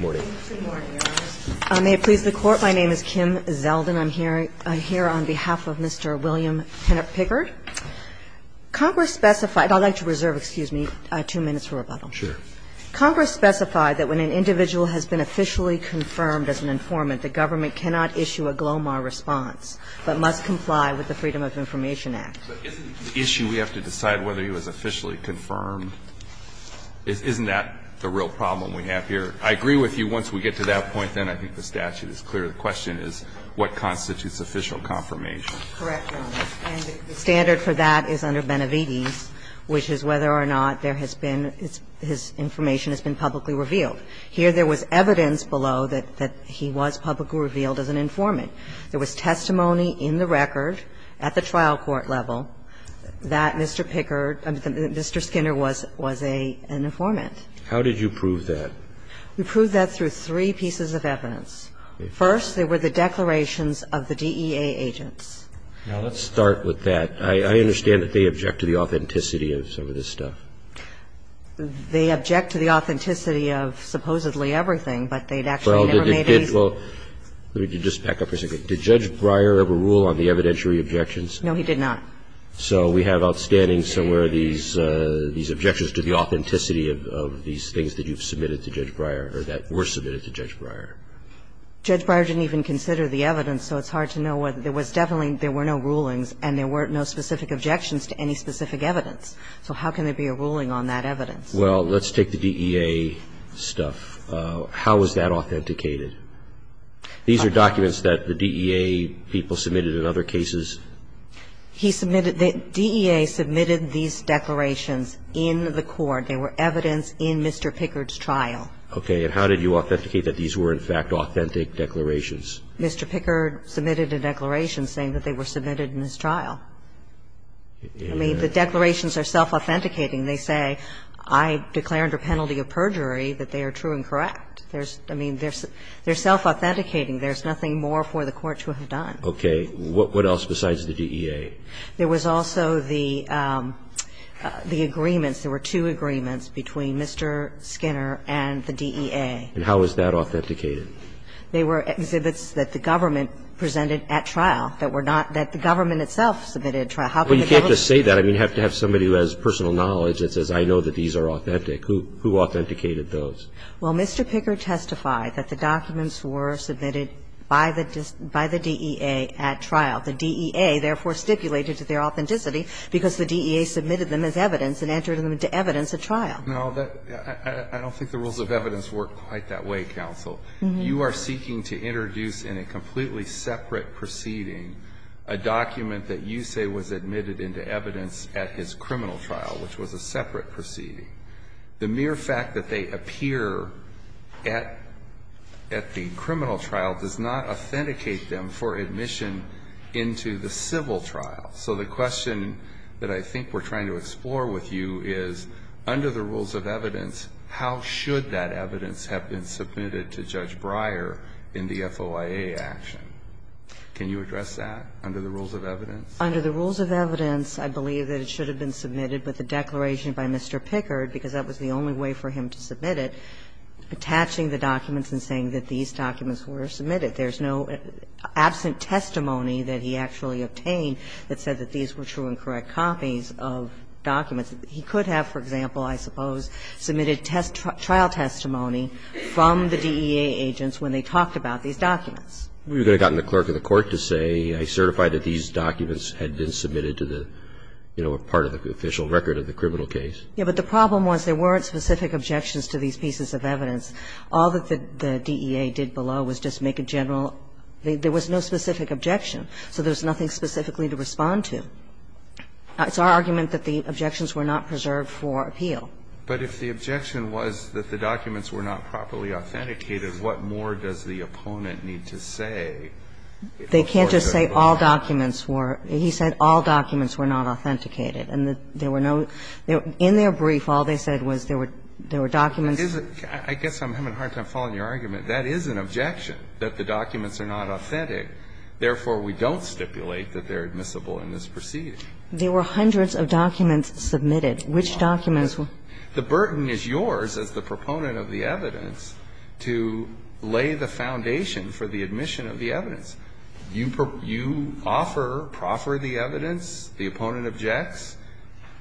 May it please the Court, my name is Kim Zeldin. I'm here on behalf of Mr. William Pickard. Congress specified – I'd like to reserve, excuse me, two minutes for rebuttal. Congress specified that when an individual has been officially confirmed as an informant, the government cannot issue a GLOMAR response but must comply with the Freedom of Information Act. But isn't the issue we have to decide whether he was officially confirmed, isn't that the real problem we have here? I agree with you once we get to that point, then I think the statute is clear. The question is what constitutes official confirmation. Correct, Your Honor. And the standard for that is under Benevides, which is whether or not there has been – his information has been publicly revealed. Here there was evidence below that he was publicly revealed as an informant. There was testimony in the record at the trial court level that Mr. Pickard – Mr. Skinner was an informant. How did you prove that? We proved that through three pieces of evidence. First, there were the declarations of the DEA agents. Now, let's start with that. I understand that they object to the authenticity of some of this stuff. They object to the authenticity of supposedly everything, but they'd actually never made any – Well, did – let me just back up for a second. Did Judge Breyer ever rule on the evidentiary objections? No, he did not. So we have outstanding somewhere these objections to the authenticity of these things that you've submitted to Judge Breyer, or that were submitted to Judge Breyer. Judge Breyer didn't even consider the evidence, so it's hard to know what – there was definitely – there were no rulings, and there were no specific objections to any specific evidence. So how can there be a ruling on that evidence? Well, let's take the DEA stuff. How is that authenticated? These are documents that the DEA people submitted in other cases. He submitted – the DEA submitted these declarations in the court. They were evidence in Mr. Pickard's trial. Okay. And how did you authenticate that these were, in fact, authentic declarations? Mr. Pickard submitted a declaration saying that they were submitted in his trial. I mean, the declarations are self-authenticating. They say, I declare under penalty of perjury that they are true and correct. There's – I mean, they're self-authenticating. There's nothing more for the court to have done. Okay. What else besides the DEA? There was also the agreements. There were two agreements between Mr. Skinner and the DEA. And how is that authenticated? They were exhibits that the government presented at trial that were not – that the government itself submitted at trial. How can the government – Well, you can't just say that. I mean, you have to have somebody who has personal knowledge that says, I know that these are authentic. Who authenticated those? Well, Mr. Pickard testified that the documents were submitted by the DEA at trial. The DEA, therefore, stipulated their authenticity because the DEA submitted them as evidence and entered them into evidence at trial. No, that – I don't think the rules of evidence work quite that way, counsel. You are seeking to introduce in a completely separate proceeding a document that you say was admitted into evidence at his criminal trial, which was a separate proceeding. The mere fact that they appear at the criminal trial does not authenticate them for admission into the civil trial. So the question that I think we're trying to explore with you is, under the rules of evidence, how should that evidence have been submitted to Judge Breyer in the FOIA action? Under the rules of evidence, I believe that it should have been submitted with a declaration by Mr. Pickard, because that was the only way for him to submit it, attaching the documents and saying that these documents were submitted. There's no absent testimony that he actually obtained that said that these were true and correct copies of documents. He could have, for example, I suppose, submitted trial testimony from the DEA agents when they talked about these documents. We would have gotten the clerk of the court to say, I certify that these documents had been submitted to the, you know, part of the official record of the criminal case. Yeah, but the problem was there weren't specific objections to these pieces of evidence. All that the DEA did below was just make a general – there was no specific objection, so there's nothing specifically to respond to. It's our argument that the objections were not preserved for appeal. But if the objection was that the documents were not properly authenticated, what more does the opponent need to say in order to go back? They can't just say all documents were – he said all documents were not authenticated and that there were no – in their brief, all they said was there were – there were documents. I guess I'm having a hard time following your argument. That is an objection, that the documents are not authentic, therefore, we don't stipulate that they're admissible in this proceeding. There were hundreds of documents submitted. Which documents? The burden is yours, as the proponent of the evidence, to lay the foundation for the admission of the evidence. You offer, proffer the evidence, the opponent objects.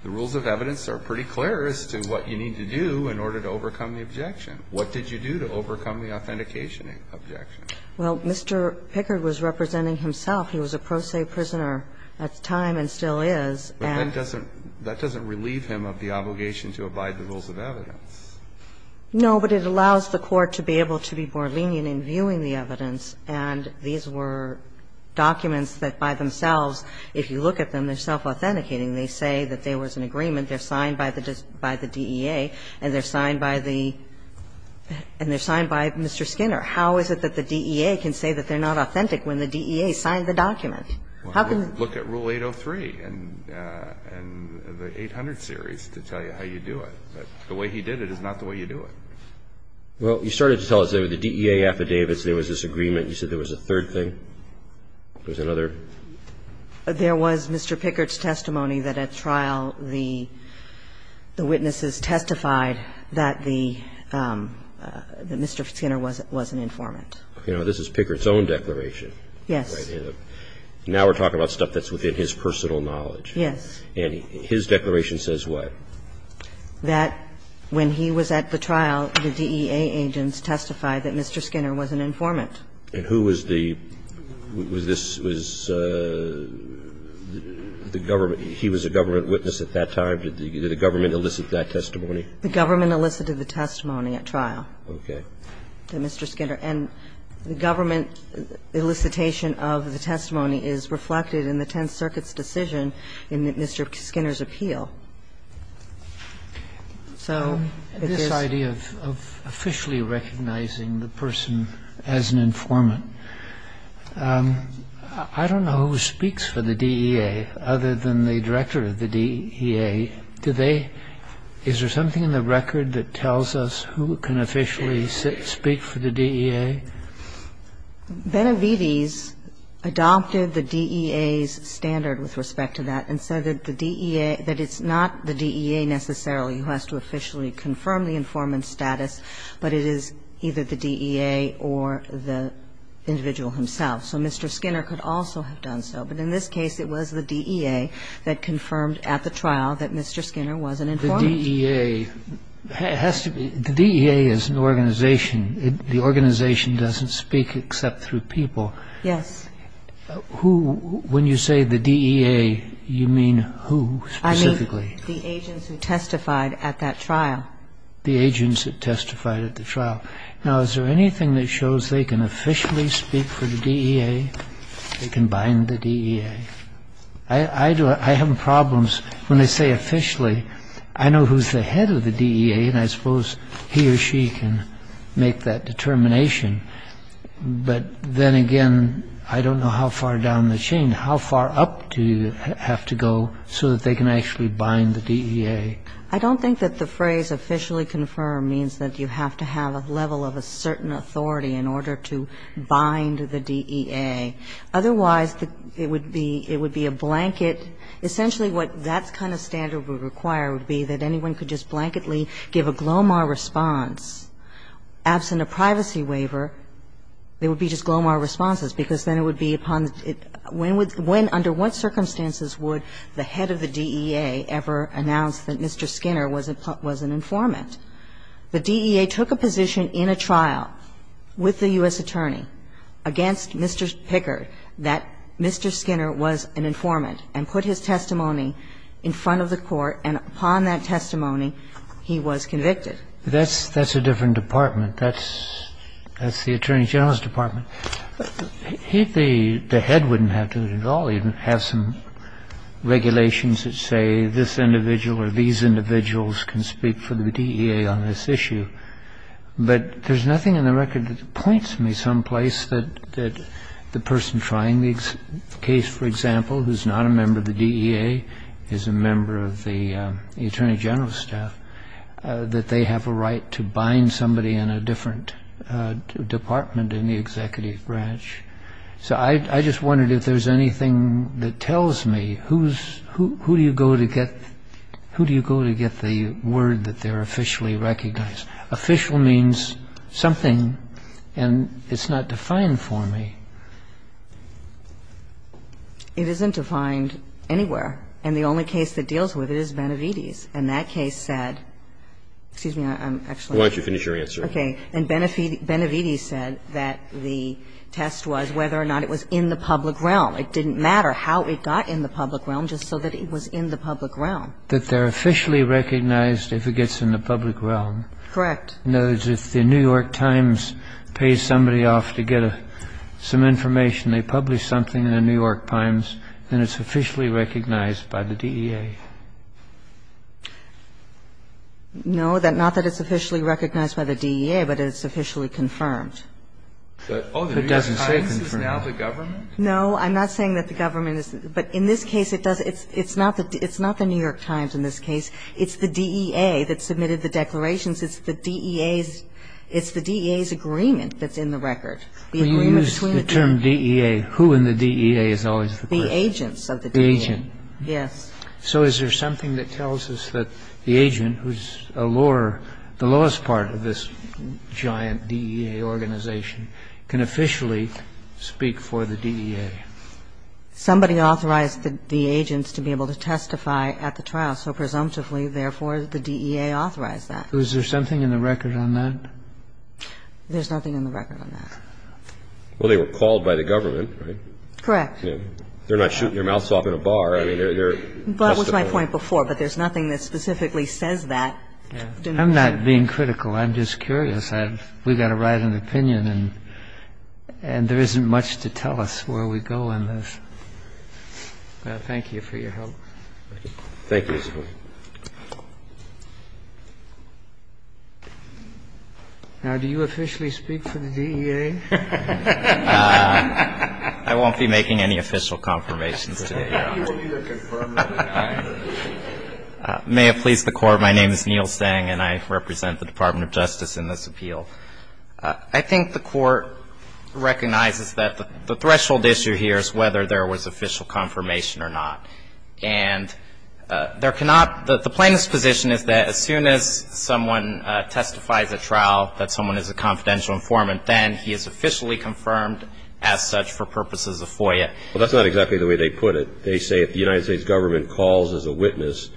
The rules of evidence are pretty clear as to what you need to do in order to overcome the objection. What did you do to overcome the authentication objection? Well, Mr. Pickard was representing himself. He was a pro se prisoner at the time and still is. And that doesn't – that doesn't relieve him of the obligation to abide the rules of evidence. No, but it allows the Court to be able to be more lenient in viewing the evidence. And these were documents that by themselves, if you look at them, they're self-authenticating. They say that there was an agreement. They're signed by the DEA and they're signed by the – and they're signed by Mr. Skinner. How is it that the DEA can say that they're not authentic when the DEA signed the document? How can the – Look at Rule 803 and the 800 series to tell you how you do it. But the way he did it is not the way you do it. Well, you started to tell us, David, the DEA affidavits, there was this agreement. You said there was a third thing. There was another? There was Mr. Pickard's testimony that at trial the witnesses testified that the – that Mr. Skinner was an informant. You know, this is Pickard's own declaration. Yes. Now we're talking about stuff that's within his personal knowledge. Yes. And his declaration says what? That when he was at the trial, the DEA agents testified that Mr. Skinner was an informant. And who was the – was this – was the government – he was a government witness at that time? Did the government elicit that testimony? The government elicited the testimony at trial. Okay. And the government elicitation of the testimony is reflected in the Tenth Circuit's decision in Mr. Skinner's appeal. So it is – This idea of officially recognizing the person as an informant, I don't know who speaks for the DEA other than the director of the DEA. Do they – is there something in the record that tells us who can officially speak for the DEA? Benavides adopted the DEA's standard with respect to that and said that the DEA – that it's not the DEA necessarily who has to officially confirm the informant's status, but it is either the DEA or the individual himself. So Mr. Skinner could also have done so, but in this case, it was the DEA that confirmed it at the trial that Mr. Skinner was an informant. The DEA has to be – the DEA is an organization. The organization doesn't speak except through people. Yes. Who – when you say the DEA, you mean who specifically? I mean the agents who testified at that trial. The agents that testified at the trial. Now, is there anything that shows they can officially speak for the DEA? They can bind the DEA. I do – I have problems when they say officially. I know who's the head of the DEA, and I suppose he or she can make that determination. But then again, I don't know how far down the chain, how far up do you have to go so that they can actually bind the DEA? I don't think that the phrase officially confirm means that you have to have a level of a certain authority in order to bind the DEA. Otherwise, it would be a blanket – essentially what that kind of standard would require would be that anyone could just blanketly give a Glomar response. Absent a privacy waiver, it would be just Glomar responses, because then it would be upon – when would – under what circumstances would the head of the DEA ever announce that Mr. Skinner was an informant? The DEA took a position in a trial with the U.S. attorney against Mr. Picker, and the U.S. attorney said that Mr. Skinner was an informant, and put his testimony in front of the court, and upon that testimony, he was convicted. That's a different department. That's the Attorney General's department. He, the head, wouldn't have to at all even have some regulations that say this individual or these individuals can speak for the DEA on this issue. But there's nothing in the record that points me someplace that the person trying the case, for example, who's not a member of the DEA, is a member of the Attorney General's staff, that they have a right to bind somebody in a different department in the executive branch. So I just wondered if there's anything that tells me who's – who do you go to get – who do you go to get the word that they're officially recognized? Official means something, and it's not defined for me. It isn't defined anywhere. And the only case that deals with it is Benevides. And that case said – excuse me, I'm actually – Why don't you finish your answer? Okay. And Benevides said that the test was whether or not it was in the public realm. It didn't matter how it got in the public realm, just so that it was in the public realm. That they're officially recognized if it gets in the public realm. Correct. In other words, if the New York Times pays somebody off to get some information, they publish something in the New York Times, then it's officially recognized by the DEA. No, not that it's officially recognized by the DEA, but it's officially confirmed. But oh, the New York Times is now the government? No, I'm not saying that the government is – but in this case, it does – it's not the New York Times in this case. It's the DEA that submitted the declarations. It's the DEA's – it's the DEA's agreement that's in the record. The agreement between the two. We use the term DEA. Who in the DEA is always the person? The agents of the DEA. The agent. Yes. So is there something that tells us that the agent, who's a lower – the lowest part of this giant DEA organization, can officially speak for the DEA? Somebody authorized the agents to be able to testify at the trial, so presumptively, therefore, the DEA authorized that. So is there something in the record on that? There's nothing in the record on that. Well, they were called by the government, right? Correct. They're not shooting your mouth off in a bar. I mean, they're – they're testifying. Well, that was my point before, but there's nothing that specifically says that. I'm not being critical. I'm just curious. I'm just curious. We've got to write an opinion, and there isn't much to tell us where we go in this. Well, thank you for your help. Thank you, Mr. Court. Now, do you officially speak for the DEA? I won't be making any official confirmations today, Your Honor. May it please the Court, my name is Neil Tseng, and I represent the Department of Justice in this appeal. I think the Court recognizes that the threshold issue here is whether there was official confirmation or not. And there cannot – the plaintiff's position is that as soon as someone testifies at trial that someone is a confidential informant, then he is officially confirmed as such for purposes of FOIA. Well, that's not exactly the way they put it. They say if the United States government calls as a witness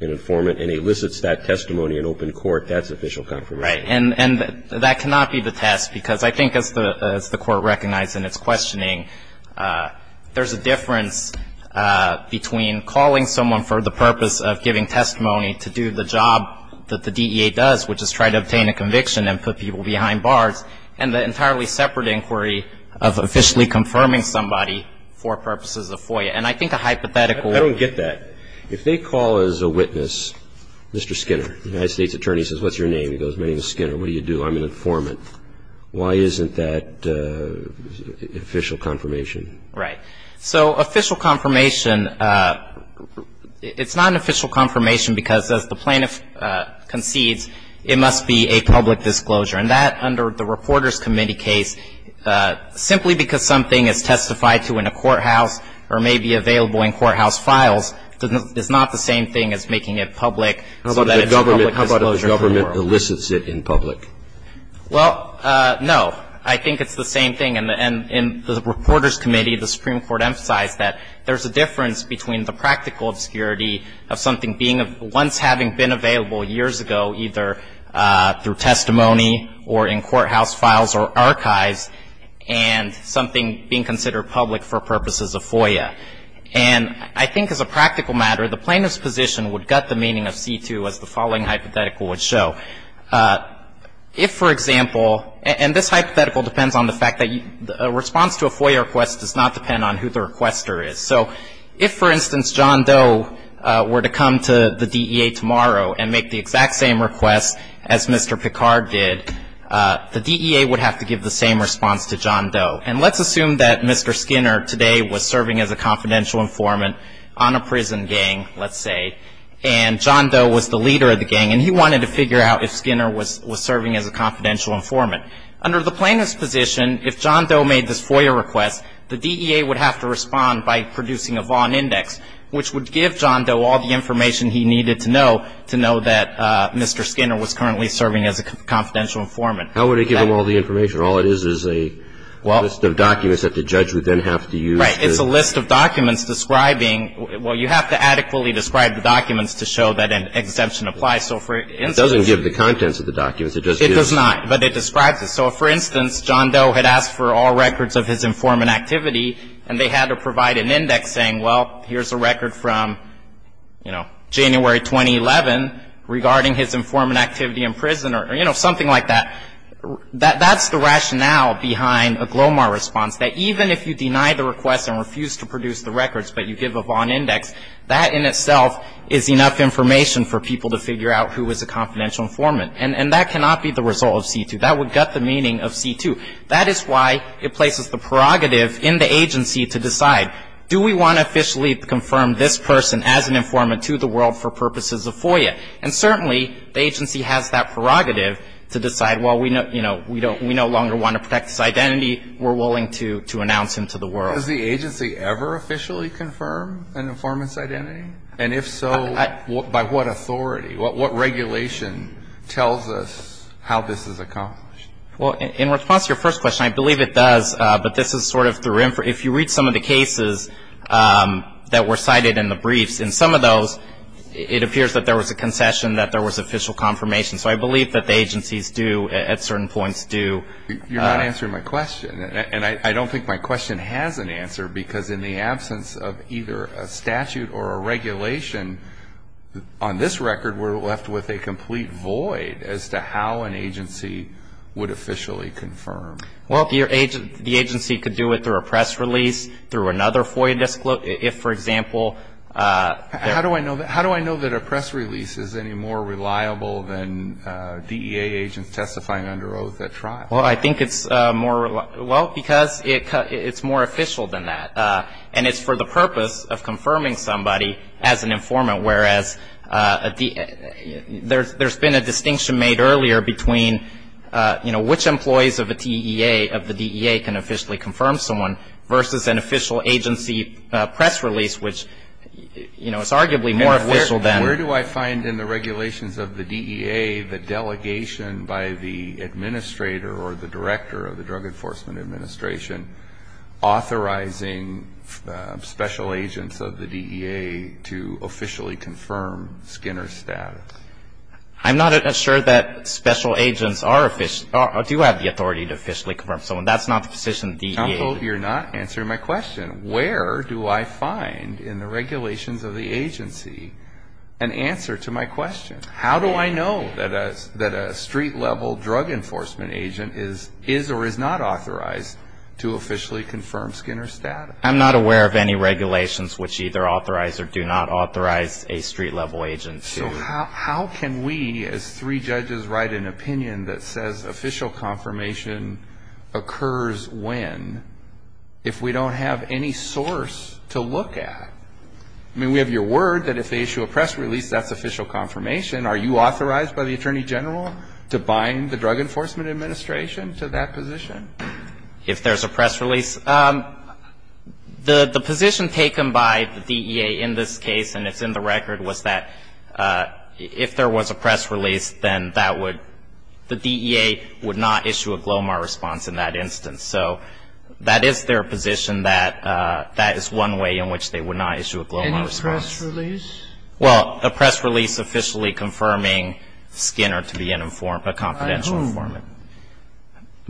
an informant and elicits that testimony in open court, that's official confirmation. Right. And that cannot be the test, because I think as the Court recognized in its questioning, there's a difference between calling someone for the purpose of giving testimony to do the job that the DEA does, which is try to obtain a conviction and put people behind bars, and the entirely separate inquiry of officially confirming somebody for purposes of FOIA. And I think a hypothetical – I don't get that. If they call as a witness, Mr. Skinner, the United States attorney says, what's your name? He goes, my name is Skinner. What do you do? I'm an informant. Why isn't that official confirmation? Right. So official confirmation – it's not an official confirmation, because as the plaintiff concedes, it must be a public disclosure. And that, under the Reporters Committee case, simply because something is testified to in a courthouse or may be available in courthouse files is not the same thing as making it public so that it's a public disclosure. How about if the government elicits it in public? Well, no. I think it's the same thing. And in the Reporters Committee, the Supreme Court emphasized that there's a difference between the practical obscurity of something being – once having been available years ago, either through testimony or in courthouse files or archives, and something being considered public for purposes of FOIA. And I think as a practical matter, the plaintiff's position would gut the meaning of C-2 as the following hypothetical would show. If, for example – and this hypothetical depends on the fact that a response to a FOIA request does not depend on who the requester is. So if, for instance, John Doe were to come to the DEA tomorrow and make the exact same request as Mr. Picard did, the DEA would have to give the same response to John Doe. And let's assume that Mr. Skinner today was serving as a confidential informant on a prison gang, let's say, and John Doe was the leader of the gang. And he wanted to figure out if Skinner was serving as a confidential informant. Under the plaintiff's position, if John Doe made this FOIA request, the DEA would have to respond by producing a Vaughn Index, which would give John Doe all the information he needed to know to know that Mr. Skinner was currently serving as a confidential informant. How would it give him all the information? All it is is a list of documents that the judge would then have to use to – Right. It's a list of documents describing – well, you have to adequately describe the documents to show that an exemption applies. So for instance – It doesn't give the contents of the documents. It just gives – It does not, but it describes it. So if, for instance, John Doe had asked for all records of his informant activity and they had to provide an index saying, well, here's a record from, you know, January 2011 regarding his informant activity in prison or, you know, something like that, that's the rationale behind a GLOMAR response, that even if you deny the request and refuse to produce the records but you give a Vaughn Index, that in itself is enough information for people to figure out who is a confidential informant. And that cannot be the result of C-2. That would gut the meaning of C-2. That is why it places the prerogative in the agency to decide, do we want to officially confirm this person as an informant to the world for purposes of FOIA? And certainly, the agency has that prerogative to decide, well, you know, we no longer want to protect this identity. We're willing to announce him to the world. Does the agency ever officially confirm an informant's identity? And if so, by what authority? What regulation tells us how this is accomplished? Well, in response to your first question, I believe it does, but this is sort of through – if you read some of the cases that were cited in the briefs, in some of those, it appears that there was a concession, that there was official confirmation. So I believe that the agencies do, at certain points, do. You're not answering my question, and I don't think my question has an answer because in the absence of either a statute or a regulation, on this record, we're left with a complete void as to how an agency would officially confirm. Well, the agency could do it through a press release, through another FOIA disclosure, if, for example – How do I know that a press release is any more reliable than DEA agents testifying under oath at trial? Well, I think it's more – well, because it's more official than that. And it's for the purpose of confirming somebody as an informant, whereas there's been a distinction made earlier between, you know, which employees of the agency – Where do I find in the regulations of the DEA the delegation by the administrator or the director of the Drug Enforcement Administration authorizing special agents of the DEA to officially confirm Skinner's status? I'm not sure that special agents are – do have the authority to officially confirm someone. That's not the position of the DEA. You're not answering my question. Where do I find in the regulations of the agency an answer to my question? How do I know that a street-level drug enforcement agent is or is not authorized to officially confirm Skinner's status? I'm not aware of any regulations which either authorize or do not authorize a street-level agent to – So how can we, as three judges, write an opinion that says, official confirmation occurs when, if we don't have any source to look at? I mean, we have your word that if they issue a press release, that's official confirmation. Are you authorized by the Attorney General to bind the Drug Enforcement Administration to that position? If there's a press release? The position taken by the DEA in this case, and it's in the record, was that if there was a press release, then that would – the DEA would not issue a GLOMAR response in that instance. So that is their position that that is one way in which they would not issue a GLOMAR response. Any press release? Well, a press release officially confirming Skinner to be an informed – a confidential informant.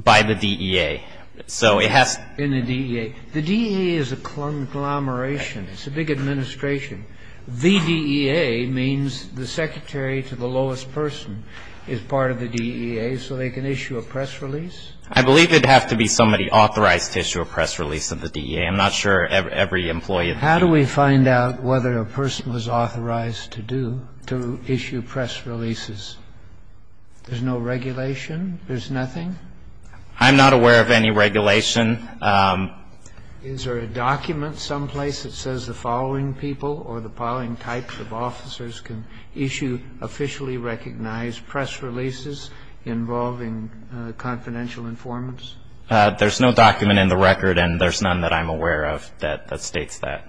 By whom? By the DEA. So it has to – In the DEA. The DEA is a conglomeration. It's a big administration. The DEA means the secretary to the lowest person is part of the DEA, so they can issue a press release? I believe it'd have to be somebody authorized to issue a press release of the DEA. I'm not sure every employee of the DEA – How do we find out whether a person was authorized to do – to issue press releases? There's no regulation? There's nothing? I'm not aware of any regulation. Is there a document someplace that says the following people or the following types of officers can issue officially recognized press releases involving confidential informants? There's no document in the record and there's none that I'm aware of that states that.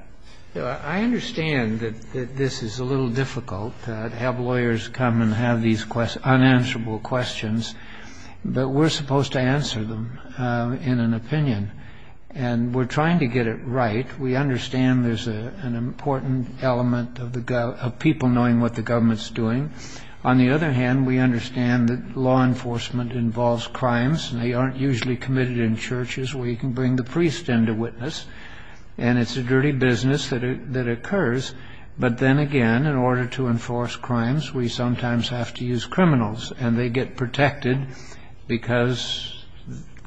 I understand that this is a little difficult to have lawyers come and have these unanswerable questions, but we're supposed to answer them in an opinion. And we're trying to get it right. We understand there's an important element of people knowing what the government's doing. On the other hand, we understand that law enforcement involves crimes and they aren't usually committed in churches where you can bring the priest into witness and it's a dirty business that occurs. But then again, in order to enforce crimes, we sometimes have to use criminals and they get protected because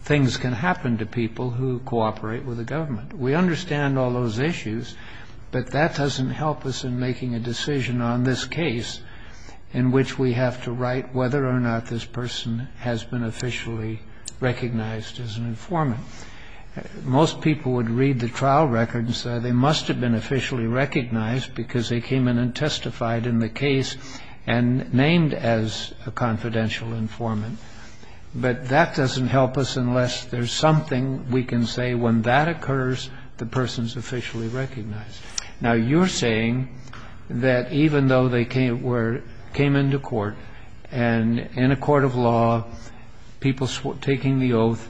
things can happen to people who cooperate with the government. We understand all those issues, but that doesn't help us in making a decision on this case in which we have to write whether or not this person has been officially recognized as an informant. Most people would read the trial record and say they must have been officially recognized because they came in and testified in the case and named as a confidential informant. But that doesn't help us unless there's something we can say when that occurs, the person's officially recognized. Now you're saying that even though they came into court and in a court of law, people taking the oath,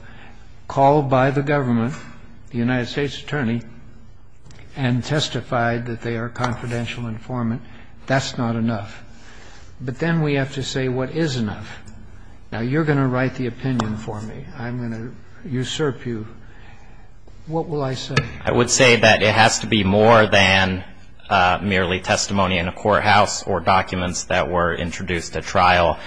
called by the government, the United States Attorney, and testified that they are confidential informant, that's not enough. But then we have to say what is enough. Now you're going to write the opinion for me. I'm going to usurp you. What will I say? I would say that it has to be more than merely testimony in a courthouse or documents that were introduced at trial.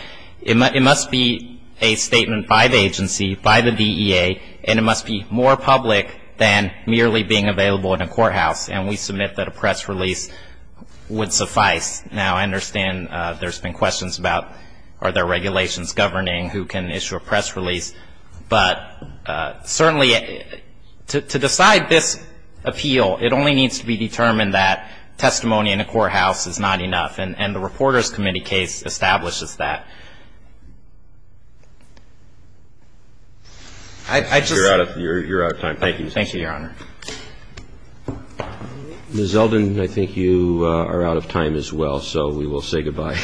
It must be a statement by the agency, by the DEA, and it must be more public than merely being available in a courthouse. And we submit that a press release would suffice. Now I understand there's been questions about are there regulations governing who can issue a press release? But certainly to decide this appeal, it only needs to be determined that testimony in a courthouse is not enough. And the Reporters Committee case establishes that. You're out of time. Thank you. Thank you, Your Honor. Ms. Zeldin, I think you are out of time as well, so we will say goodbye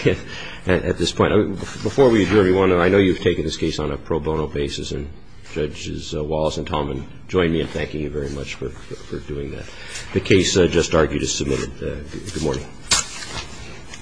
at this point. Before we adjourn, I know you've taken this case on a pro bono basis, and Judges Wallace and Tallman join me in thanking you very much for doing that. The case just argued is submitted. Good morning.